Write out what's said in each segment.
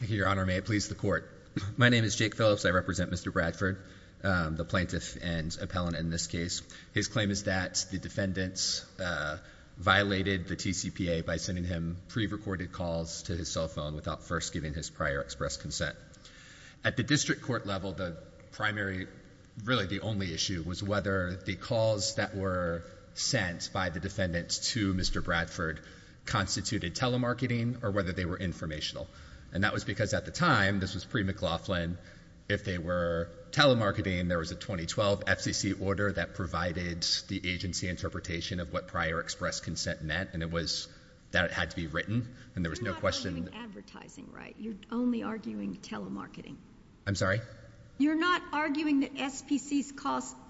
Your Honor, may it please the Court. My name is Jake Phillips. I represent Mr. Bradford, the plaintiff and appellant in this case. His claim is that the defendants violated the TCPA by sending him pre-recorded calls to his cell phone without first giving his prior express consent. At the district court level, the primary, really the only issue, was whether the calls that were sent by the defendants to Mr. Bradford constituted telemarketing or whether they were informational. And that was because at the time, this was pre-McLaughlin, if they were telemarketing, there was a 2012 FCC order that provided the agency interpretation of what prior express consent meant, and it was that it had to be written, and there was no question... You're not arguing advertising, right? You're only arguing telemarketing. I'm sorry? You're not arguing that SPCs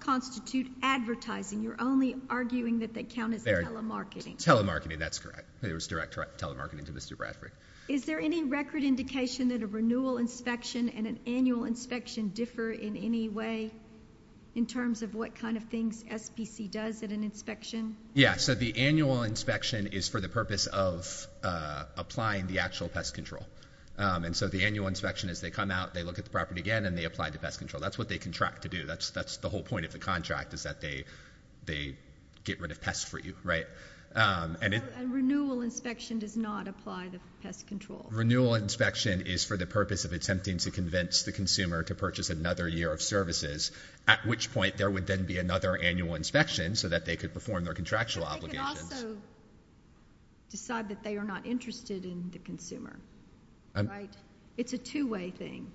constitute advertising. You're only arguing that they count as telemarketing. Telemarketing, that's correct. There was direct telemarketing to Mr. Bradford. Is there any record indication that a renewal inspection and an annual inspection differ in any way in terms of what kind of things SPC does at an inspection? Yeah, so the annual inspection is for the purpose of applying the actual pest control. And so the annual inspection is they come out, they look at the property again, and they apply the pest control. That's what they contract to do. That's the whole point of the contract is that they get rid of pests for you, right? So a renewal inspection does not apply the pest control. Renewal inspection is for the purpose of attempting to convince the consumer to purchase another year of services, at which point there would then be another annual inspection so that they could perform their contractual obligations. But they could also decide that they are not interested in the consumer, right? It's a two-way thing.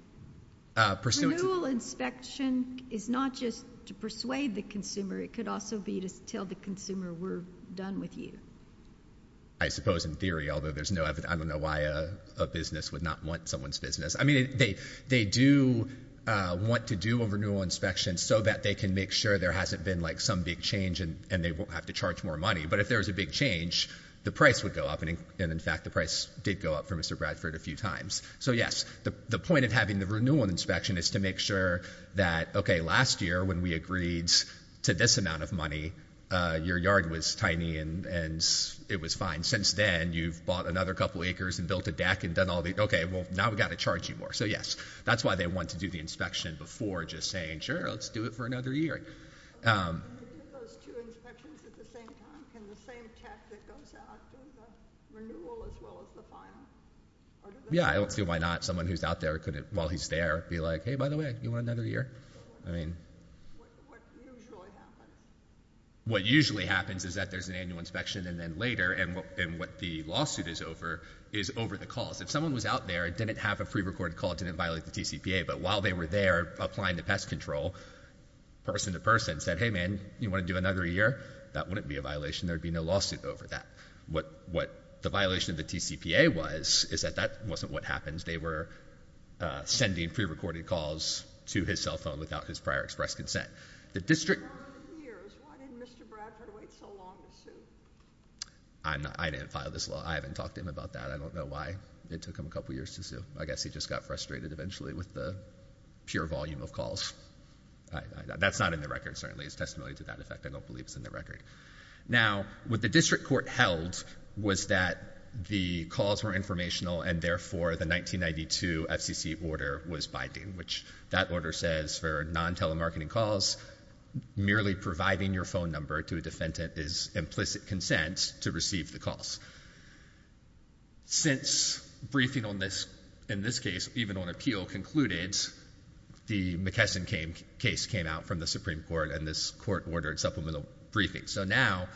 Renewal inspection is not just to persuade the consumer. It could also be to tell the consumer we're done with you. I suppose in theory, although I don't know why a business would not want someone's business. I mean, they do want to do a renewal inspection so that they can make sure there hasn't been like some big change and they won't have to charge more money. But if there was a big change, the price would go up. And, in fact, the price did go up for Mr. Bradford a few times. So, yes, the point of having the renewal inspection is to make sure that, okay, last year when we agreed to this amount of money, your yard was tiny and it was fine. Since then, you've bought another couple acres and built a deck and done all the – okay, well, now we've got to charge you more. So, yes, that's why they want to do the inspection before just saying, sure, let's do it for another year. Can you do those two inspections at the same time? Can the same tech that goes out do the renewal as well as the final? Yeah, I don't see why not. Someone who's out there while he's there could be like, hey, by the way, do you want another year? What usually happens? What usually happens is that there's an annual inspection and then later, and what the lawsuit is over, is over the calls. If someone was out there, didn't have a pre-recorded call, didn't violate the TCPA, but while they were there applying the pest control, person to person, said, hey, man, you want to do another year? That wouldn't be a violation. There would be no lawsuit over that. What the violation of the TCPA was is that that wasn't what happens. They were sending pre-recorded calls to his cell phone without his prior express consent. The district – Why didn't Mr. Bradford wait so long to sue? I didn't file this law. I haven't talked to him about that. I don't know why it took him a couple years to sue. I guess he just got frustrated eventually with the pure volume of calls. That's not in the record, certainly. It's testimony to that effect. I don't believe it's in the record. Now, what the district court held was that the calls were informational and, therefore, the 1992 FCC order was binding, which that order says for non-telemarketing calls, merely providing your phone number to a defendant is implicit consent to receive the calls. Since briefing on this, in this case, even on appeal concluded, the McKesson case came out from the Supreme Court, and this court ordered supplemental briefing. So now,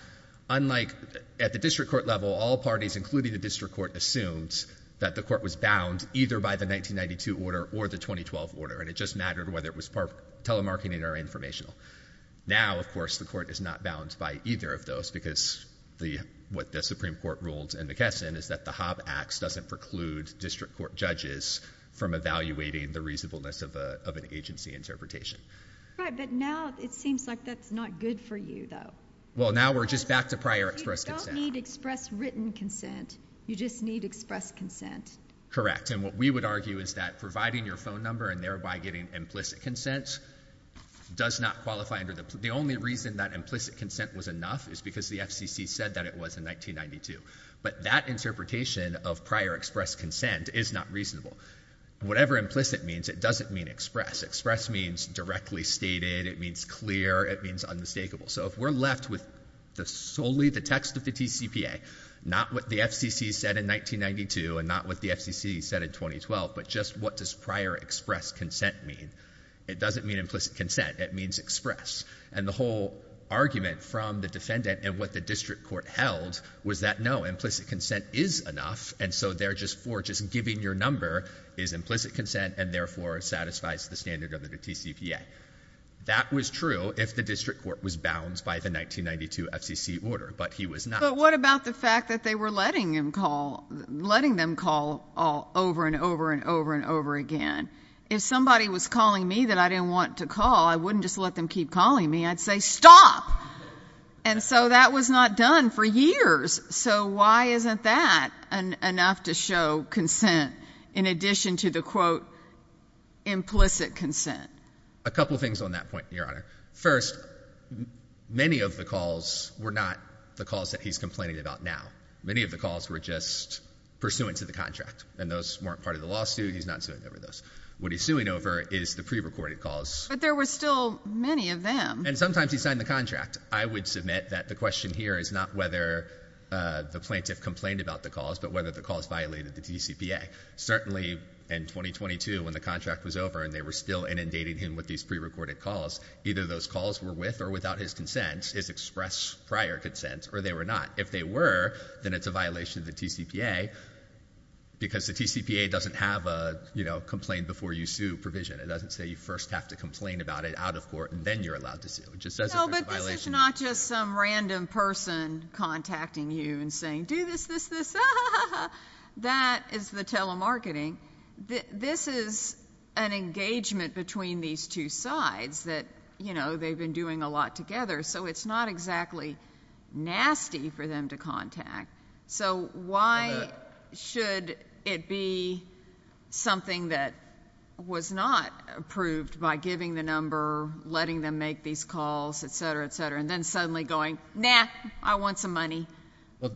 unlike at the district court level, all parties, including the district court, assumed that the court was bound either by the 1992 order or the 2012 order, and it just mattered whether it was telemarketing or informational. Now, of course, the court is not bound by either of those because what the Supreme Court ruled in McKesson is that the Hobb Act doesn't preclude district court judges from evaluating the reasonableness of an agency interpretation. Right, but now it seems like that's not good for you, though. Well, now we're just back to prior express consent. You don't need express written consent. You just need express consent. Correct, and what we would argue is that providing your phone number and thereby getting implicit consent does not qualify under the, the only reason that implicit consent was enough is because the FCC said that it was in 1992. But that interpretation of prior express consent is not reasonable. Whatever implicit means, it doesn't mean express. Express means directly stated. It means clear. It means unmistakable. So if we're left with solely the text of the TCPA, not what the FCC said in 1992 and not what the FCC said in 2012, but just what does prior express consent mean? It doesn't mean implicit consent. It means express, and the whole argument from the defendant and what the district court held was that no, implicit consent is enough, and so they're just for just giving your number is implicit consent and therefore satisfies the standard of the TCPA. That was true if the district court was bound by the 1992 FCC order, but he was not. But what about the fact that they were letting him call, letting them call over and over and over and over again? If somebody was calling me that I didn't want to call, I wouldn't just let them keep calling me. I'd say stop, and so that was not done for years. So why isn't that enough to show consent in addition to the, quote, implicit consent? A couple things on that point, Your Honor. First, many of the calls were not the calls that he's complaining about now. Many of the calls were just pursuant to the contract, and those weren't part of the lawsuit. He's not suing over those. What he's suing over is the prerecorded calls. But there were still many of them. And sometimes he signed the contract. I would submit that the question here is not whether the plaintiff complained about the calls but whether the calls violated the TCPA. Certainly in 2022 when the contract was over and they were still inundating him with these prerecorded calls, either those calls were with or without his consent, his express prior consent, or they were not. If they were, then it's a violation of the TCPA because the TCPA doesn't have a, you know, complain before you sue provision. It doesn't say you first have to complain about it out of court and then you're allowed to sue. It just says it's a violation. No, but this is not just some random person contacting you and saying, do this, this, this. That is the telemarketing. This is an engagement between these two sides that, you know, they've been doing a lot together. So it's not exactly nasty for them to contact. So why should it be something that was not approved by giving the number, letting them make these calls, et cetera, et cetera, and then suddenly going, nah, I want some money. Well,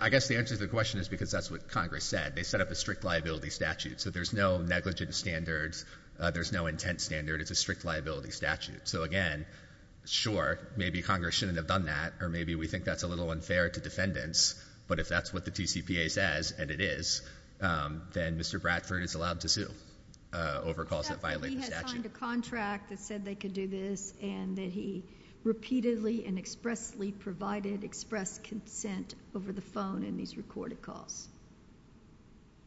I guess the answer to the question is because that's what Congress said. They set up a strict liability statute. So there's no negligent standards. There's no intent standard. It's a strict liability statute. So, again, sure, maybe Congress shouldn't have done that or maybe we think that's a little unfair to defendants, but if that's what the TCPA says, and it is, then Mr. Bradford is allowed to sue over calls that violate the statute. He signed a contract that said they could do this and that he repeatedly and expressly provided express consent over the phone in these recorded calls.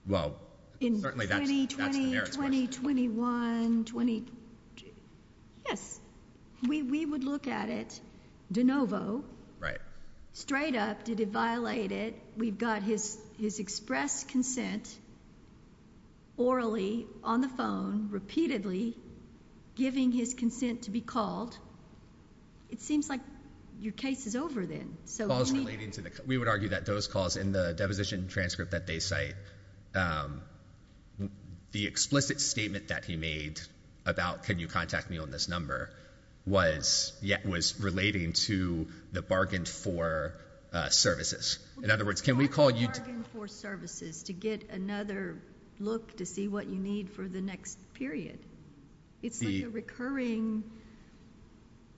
Well, certainly that's the merits question. In 2020, 2021, yes, we would look at it de novo. Right. Straight up, did it violate it? We've got his express consent orally on the phone repeatedly giving his consent to be called. It seems like your case is over then. We would argue that those calls in the deposition transcript that they cite, the explicit statement that he made about can you contact me on this number was relating to the bargain for services. In other words, can we call you? For services to get another look to see what you need for the next period. It's the recurring.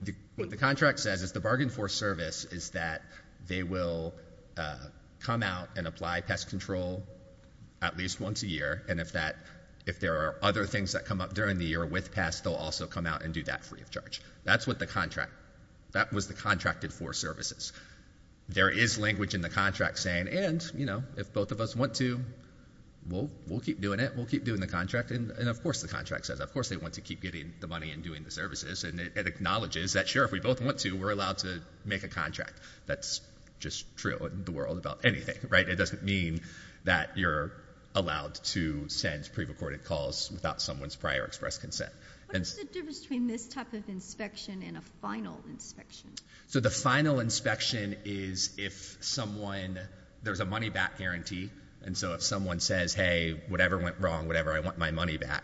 The contract says is the bargain for service is that they will come out and apply pest control at least once a year. And if that if there are other things that come up during the year with past, they'll also come out and do that free of charge. That's what the contract that was the contracted for services. There is language in the contract saying, and, you know, if both of us want to, we'll keep doing it. We'll keep doing the contract. And of course, the contract says, of course, they want to keep getting the money and doing the services. And it acknowledges that, sure, if we both want to, we're allowed to make a contract. That's just true in the world about anything. Right. It doesn't mean that you're allowed to send pre-recorded calls without someone's prior express consent. And the difference between this type of inspection and a final inspection. So the final inspection is if someone there's a money back guarantee. And so if someone says, hey, whatever went wrong, whatever, I want my money back.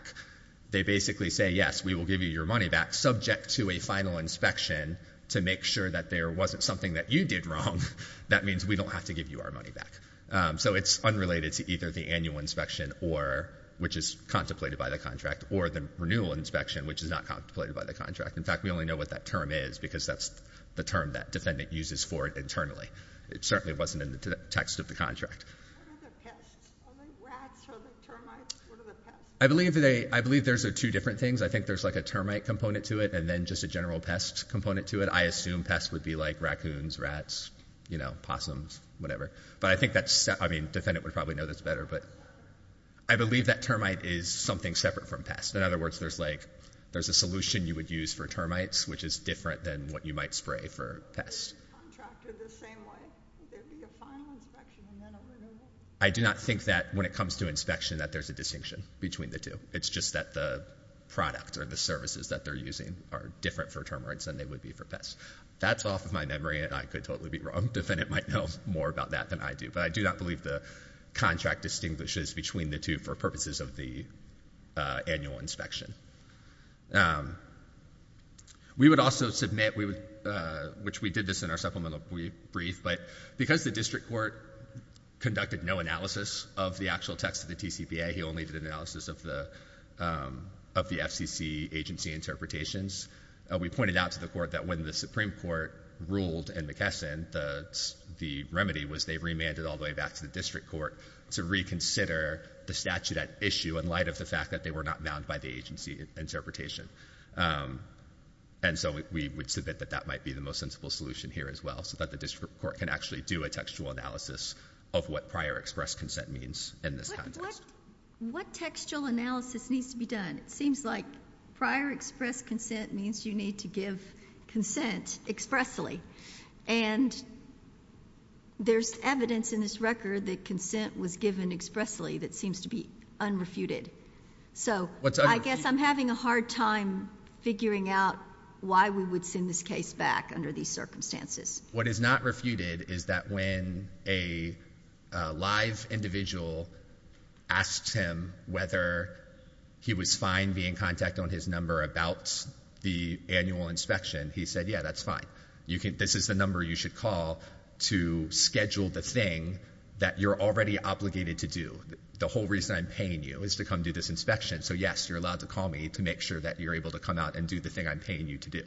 They basically say, yes, we will give you your money back subject to a final inspection to make sure that there wasn't something that you did wrong. That means we don't have to give you our money back. So it's unrelated to either the annual inspection or which is contemplated by the contract or the renewal inspection, which is not contemplated by the contract. In fact, we only know what that term is because that's the term that defendant uses for it internally. It certainly wasn't in the text of the contract. I believe there's two different things. I think there's like a termite component to it and then just a general pest component to it. I assume pests would be like raccoons, rats, possums, whatever. But I think that's, I mean, defendant would probably know this better. But I believe that termite is something separate from pests. In other words, there's like, there's a solution you would use for termites, which is different than what you might spray for pests. Is the contract the same way? Would there be a final inspection and then a renewal? I do not think that when it comes to inspection that there's a distinction between the two. It's just that the product or the services that they're using are different for termites than they would be for pests. That's off of my memory and I could totally be wrong. Defendant might know more about that than I do. But I do not believe the contract distinguishes between the two for purposes of the annual inspection. We would also submit, which we did this in our supplemental brief, but because the district court conducted no analysis of the actual text of the TCPA, he only did an analysis of the FCC agency interpretations, we pointed out to the court that when the Supreme Court ruled in McKesson, the remedy was they remanded all the way back to the district court to reconsider the statute at issue in light of the fact that they were not bound by the agency interpretation. And so we would submit that that might be the most sensible solution here as well, so that the district court can actually do a textual analysis of what prior express consent means in this context. What textual analysis needs to be done? It seems like prior express consent means you need to give consent expressly. And there's evidence in this record that consent was given expressly that seems to be unrefuted. So I guess I'm having a hard time figuring out why we would send this case back under these circumstances. What is not refuted is that when a live individual asks him whether he was fine being in contact on his number about the annual inspection, he said, yeah, that's fine. This is the number you should call to schedule the thing that you're already obligated to do. The whole reason I'm paying you is to come do this inspection, so yes, you're allowed to call me to make sure that you're able to come out and do the thing I'm paying you to do.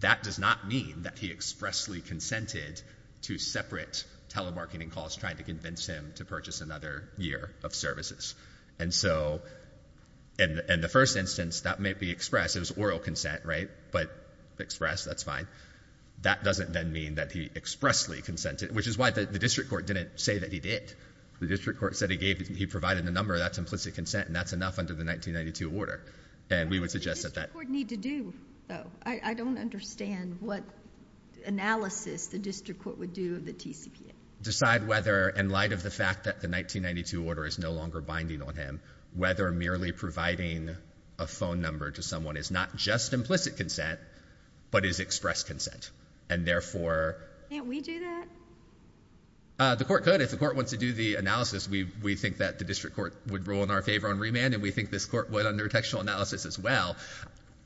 That does not mean that he expressly consented to separate telemarketing calls trying to convince him to purchase another year of services. And so in the first instance, that may be expressed. It was oral consent, right? But expressed, that's fine. That doesn't then mean that he expressly consented, which is why the district court didn't say that he did. The district court said he provided the number. That's implicit consent, and that's enough under the 1992 order. And we would suggest that that— What does the district court need to do, though? I don't understand what analysis the district court would do of the TCPA. We decide whether, in light of the fact that the 1992 order is no longer binding on him, whether merely providing a phone number to someone is not just implicit consent but is expressed consent, and therefore— Can't we do that? The court could. If the court wants to do the analysis, we think that the district court would rule in our favor on remand, and we think this court would under textual analysis as well.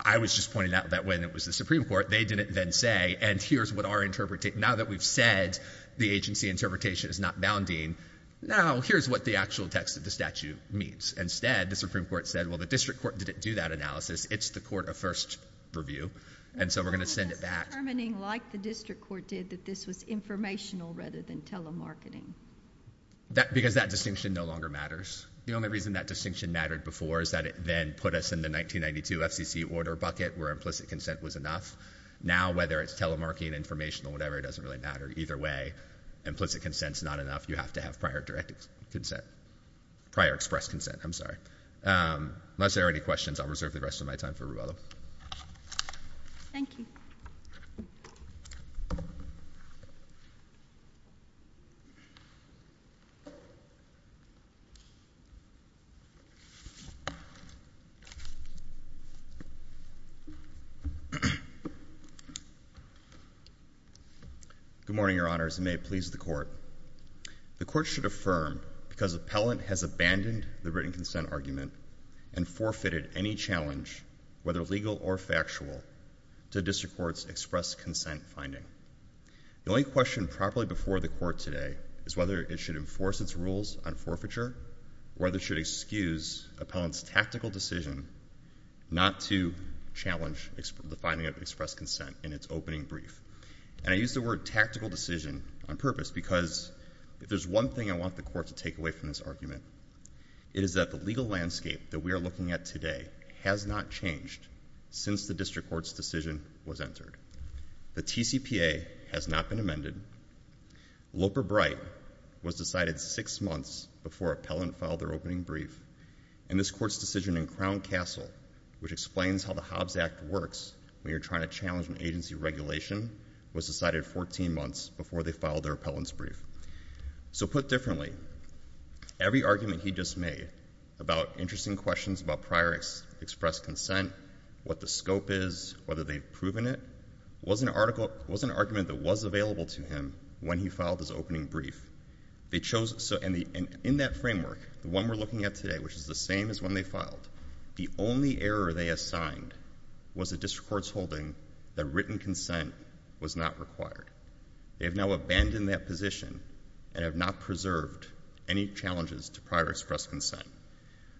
I was just pointing out that when it was the Supreme Court, they didn't then say, and here's what our—now that we've said the agency interpretation is not bounding, now here's what the actual text of the statute means. Instead, the Supreme Court said, well, the district court didn't do that analysis. It's the court of first review, and so we're going to send it back. That's determining, like the district court did, that this was informational rather than telemarketing. Because that distinction no longer matters. The only reason that distinction mattered before is that it then put us in the 1992 FCC order bucket where implicit consent was enough. Now, whether it's telemarketing, informational, whatever, it doesn't really matter. Either way, implicit consent is not enough. You have to have prior direct consent—prior expressed consent. I'm sorry. Unless there are any questions, I'll reserve the rest of my time for Ruelo. Thank you. Good morning, Your Honors, and may it please the Court. The Court should affirm because appellant has abandoned the written consent argument and forfeited any challenge, whether legal or factual, to district court's expressed consent finding. The only question properly before the Court today is whether it should enforce its rules on forfeiture or whether it should excuse appellant's tactical decision not to challenge the finding of expressed consent in its opening brief. And I use the word tactical decision on purpose because if there's one thing I want the Court to take away from this argument, it is that the legal landscape that we are looking at today has not changed since the district court's decision was entered. The TCPA has not been amended. Loper-Bright was decided six months before appellant filed their opening brief, and this Court's decision in Crown Castle, which explains how the Hobbs Act works when you're trying to challenge an agency regulation, was decided 14 months before they filed their appellant's brief. So put differently, every argument he just made about interesting questions about prior expressed consent, what the scope is, whether they've proven it, was an argument that was available to him when he filed his opening brief. And in that framework, the one we're looking at today, which is the same as when they filed, the only error they assigned was a district court's holding that written consent was not required. They have now abandoned that position and have not preserved any challenges to prior expressed consent.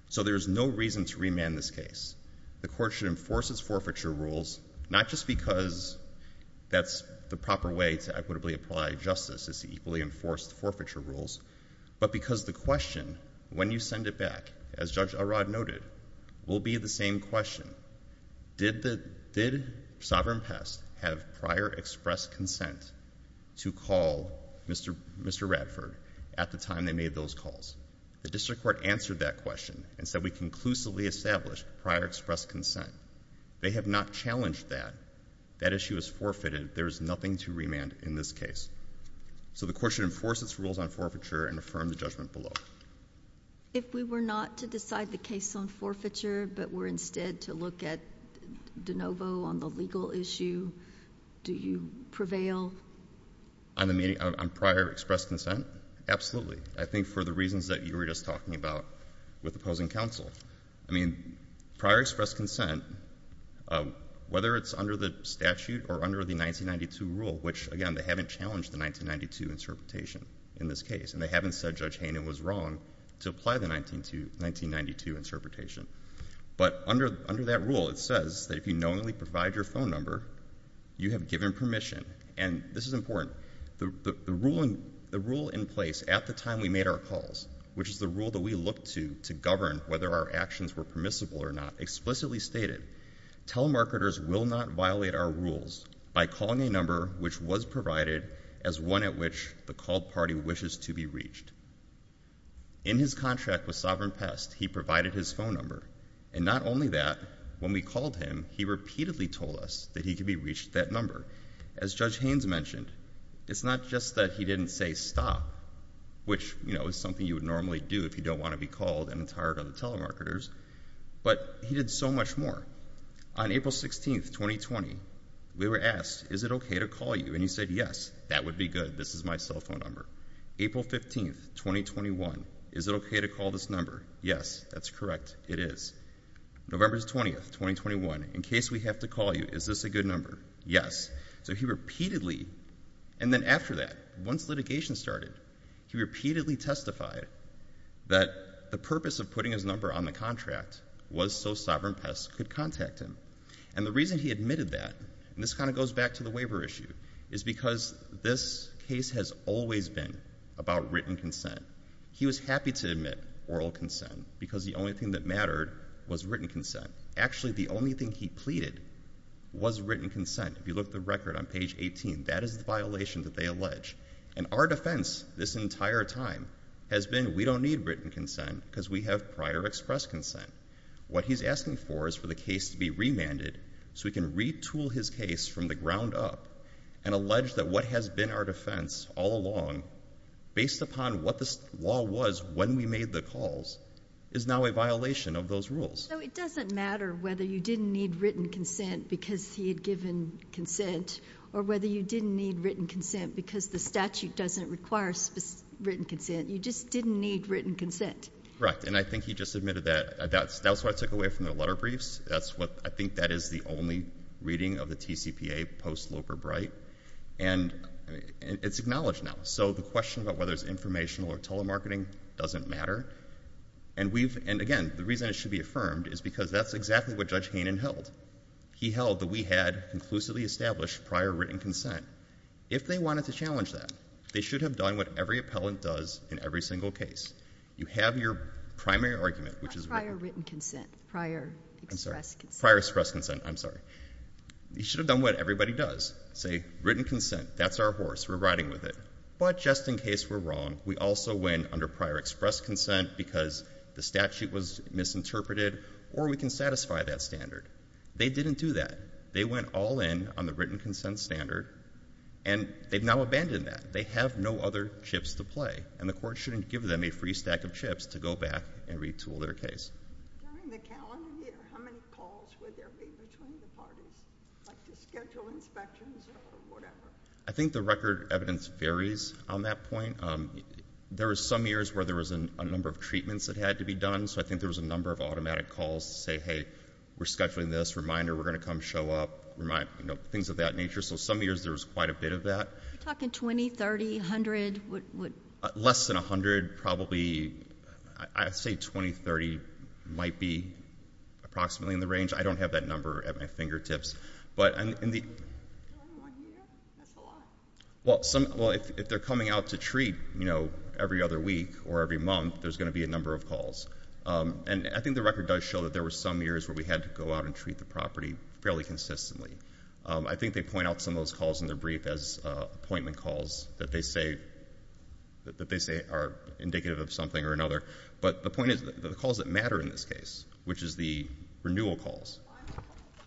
So there's no reason to remand this case. The Court should enforce its forfeiture rules not just because that's the proper way to equitably apply justice, it's the equally enforced forfeiture rules, but because the question, when you send it back, as Judge Arad noted, will be the same question. Did Sovereign Pest have prior expressed consent to call Mr. Radford at the time they made those calls? The district court answered that question and said we conclusively established prior expressed consent. They have not challenged that. That issue is forfeited. There is nothing to remand in this case. So the Court should enforce its rules on forfeiture and affirm the judgment below. If we were not to decide the case on forfeiture but were instead to look at de novo on the legal issue, do you prevail? On prior expressed consent? Absolutely. I think for the reasons that you were just talking about with opposing counsel. I mean, prior expressed consent, whether it's under the statute or under the 1992 rule, which, again, they haven't challenged the 1992 interpretation in this case, and they haven't said Judge Haynen was wrong to apply the 1992 interpretation. But under that rule, it says that if you knowingly provide your phone number, you have given permission. And this is important. The rule in place at the time we made our calls, which is the rule that we look to to govern whether our actions were permissible or not, explicitly stated telemarketers will not violate our rules by calling a number which was provided as one at which the called party wishes to be reached. In his contract with Sovereign Pest, he provided his phone number. And not only that, when we called him, he repeatedly told us that he could be reached that number. As Judge Haynes mentioned, it's not just that he didn't say stop, which is something you would normally do if you don't want to be called and tired of the telemarketers, but he did so much more. On April 16th, 2020, we were asked, is it okay to call you? And he said, yes, that would be good. This is my cell phone number. April 15th, 2021, is it okay to call this number? Yes, that's correct. It is. November 20th, 2021, in case we have to call you, is this a good number? Yes. So he repeatedly, and then after that, once litigation started, he repeatedly testified that the purpose of putting his number on the contract was so Sovereign Pest could contact him. And the reason he admitted that, and this kind of goes back to the waiver issue, is because this case has always been about written consent. He was happy to admit oral consent because the only thing that mattered was written consent. Actually, the only thing he pleaded was written consent. If you look at the record on page 18, that is the violation that they allege. And our defense this entire time has been we don't need written consent because we have prior express consent. What he's asking for is for the case to be remanded so we can retool his case from the ground up and allege that what has been our defense all along, based upon what the law was when we made the calls, is now a violation of those rules. So it doesn't matter whether you didn't need written consent because he had given consent or whether you didn't need written consent because the statute doesn't require written consent. You just didn't need written consent. Correct. And I think he just admitted that. That's what I took away from the letter briefs. I think that is the only reading of the TCPA post-Loper-Bright. And it's acknowledged now. So the question about whether it's informational or telemarketing doesn't matter. And, again, the reason it should be affirmed is because that's exactly what Judge Haynen held. He held that we had conclusively established prior written consent. If they wanted to challenge that, they should have done what every appellant does in every single case. You have your primary argument, which is written consent. Not prior written consent. Prior express consent. Prior express consent. I'm sorry. You should have done what everybody does. Say, written consent. That's our horse. We're riding with it. But just in case we're wrong, we also win under prior express consent because the statute was misinterpreted, or we can satisfy that standard. They didn't do that. They went all in on the written consent standard, and they've now abandoned that. They have no other chips to play, and the court shouldn't give them a free stack of chips to go back and retool their case. During the calendar year, how many calls would there be between the parties, like to schedule inspections or whatever? I think the record evidence varies on that point. There were some years where there was a number of treatments that had to be done, so I think there was a number of automatic calls to say, hey, we're scheduling this. Reminder, we're going to come show up, things of that nature. So some years there was quite a bit of that. You're talking 20, 30, 100? Less than 100, probably. I'd say 20, 30 might be approximately in the range. I don't have that number at my fingertips. If they're coming out to treat every other week or every month, there's going to be a number of calls. I think the record does show that there were some years where we had to go out and treat the property fairly consistently. I think they point out some of those calls in their brief as appointment calls, that they say are indicative of something or another. But the point is the calls that matter in this case, which is the renewal calls,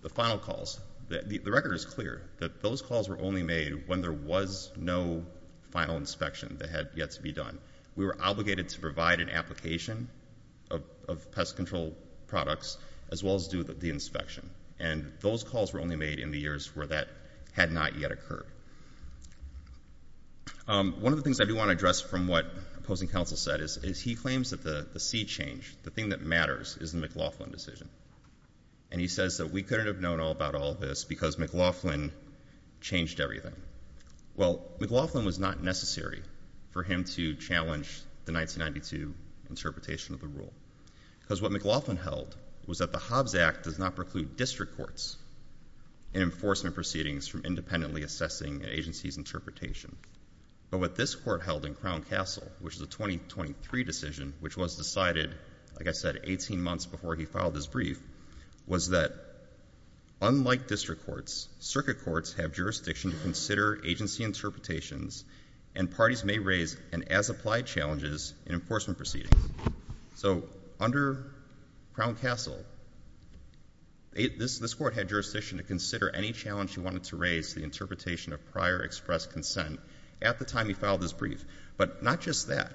the final calls, the record is clear that those calls were only made when there was no final inspection that had yet to be done. We were obligated to provide an application of pest control products as well as do the inspection. And those calls were only made in the years where that had not yet occurred. One of the things I do want to address from what opposing counsel said is he claims that the sea change, the thing that matters, is the McLaughlin decision. And he says that we couldn't have known all about all this because McLaughlin changed everything. Well, McLaughlin was not necessary for him to challenge the 1992 interpretation of the rule. Because what McLaughlin held was that the Hobbs Act does not preclude district courts in enforcement proceedings from independently assessing an agency's interpretation. But what this court held in Crown Castle, which is a 2023 decision, which was decided, like I said, 18 months before he filed his brief, was that unlike district courts, circuit courts have jurisdiction to consider agency interpretations and parties may raise an as-applied challenges in enforcement proceedings. So under Crown Castle, this court had jurisdiction to consider any challenge he wanted to raise to the interpretation of prior expressed consent at the time he filed his brief. But not just that.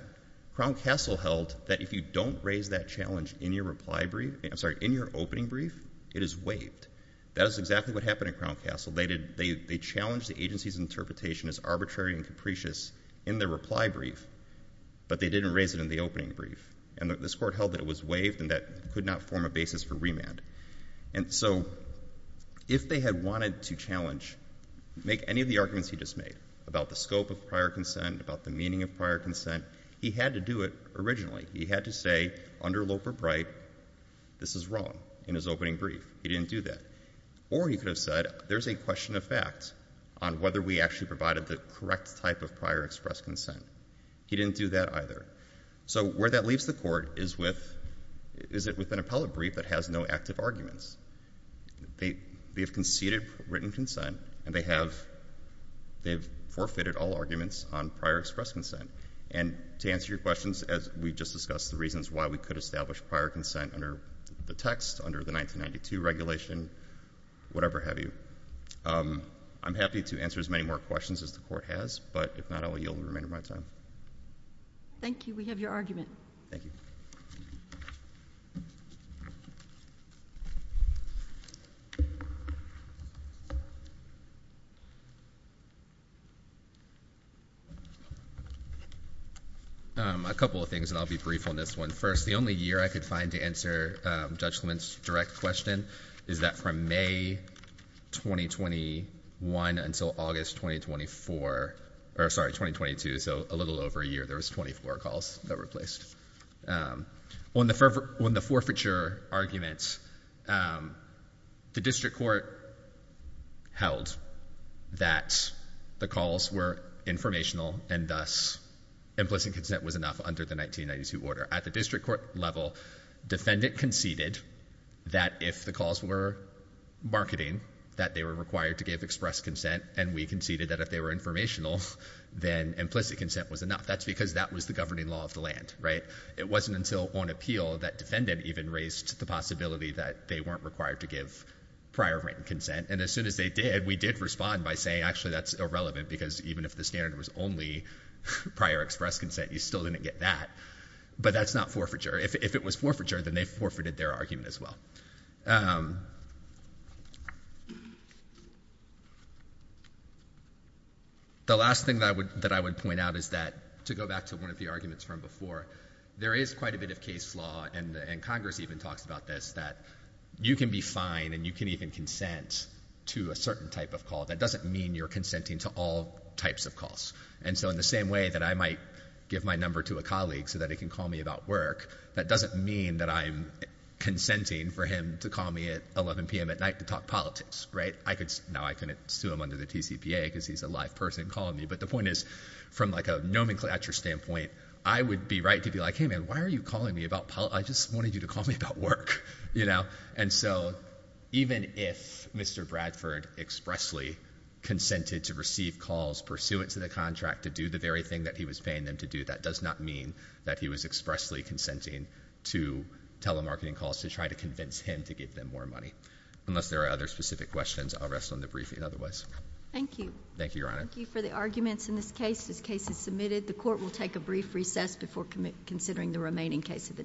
Crown Castle held that if you don't raise that challenge in your reply brief, I'm sorry, in your opening brief, it is waived. That is exactly what happened at Crown Castle. They challenged the agency's interpretation as arbitrary and capricious in their reply brief, but they didn't raise it in the opening brief. And this court held that it was waived and that it could not form a basis for remand. And so if they had wanted to challenge, make any of the arguments he just made about the scope of prior consent, about the meaning of prior consent, he had to do it originally. He had to say under Loper-Bright this is wrong in his opening brief. He didn't do that. Or he could have said there's a question of fact on whether we actually provided the correct type of prior expressed consent. He didn't do that either. So where that leaves the court is with an appellate brief that has no active arguments. They have conceded written consent and they have forfeited all arguments on prior expressed consent. And to answer your questions, as we just discussed, the reasons why we could establish prior consent under the text, under the 1992 regulation, whatever have you. I'm happy to answer as many more questions as the Court has, but if not, I will yield the remainder of my time. Thank you. We have your argument. Thank you. A couple of things, and I'll be brief on this one. First, the only year I could find to answer Judge Clement's direct question is that from May 2021 until August 2022, so a little over a year, there was 24 calls that were placed. On the forfeiture arguments, the District Court held that the calls were informational and thus implicit consent was enough under the 1992 order. At the District Court level, defendant conceded that if the calls were marketing, that they were required to give expressed consent, and we conceded that if they were informational, then implicit consent was enough. That's because that was the governing law of the land, right? It wasn't until on appeal that defendant even raised the possibility that they weren't required to give prior written consent, and as soon as they did, we did respond by saying, actually, that's irrelevant because even if the standard was only prior expressed consent, you still didn't get that. But that's not forfeiture. If it was forfeiture, then they forfeited their argument as well. The last thing that I would point out is that, to go back to one of the arguments from before, there is quite a bit of case law, and Congress even talks about this, that you can be fined and you can even consent to a certain type of call. That doesn't mean you're consenting to all types of calls, and so in the same way that I might give my number to a colleague so that he can call me about work, that doesn't mean that I'm consenting for him to call me at 11 p.m. at night to talk politics. Now I can sue him under the TCPA because he's a live person calling me, but the point is, from a nomenclature standpoint, I would be right to be like, hey, man, why are you calling me about politics? I just wanted you to call me about work. And so even if Mr. Bradford expressly consented to receive calls pursuant to the contract to do the very thing that he was paying them to do, that does not mean that he was expressly consenting to telemarketing calls to try to convince him to give them more money. Unless there are other specific questions, I'll rest on the briefing otherwise. Thank you. Thank you, Your Honor. Thank you for the arguments in this case. This case is submitted. The court will take a brief recess before considering the remaining case of the day.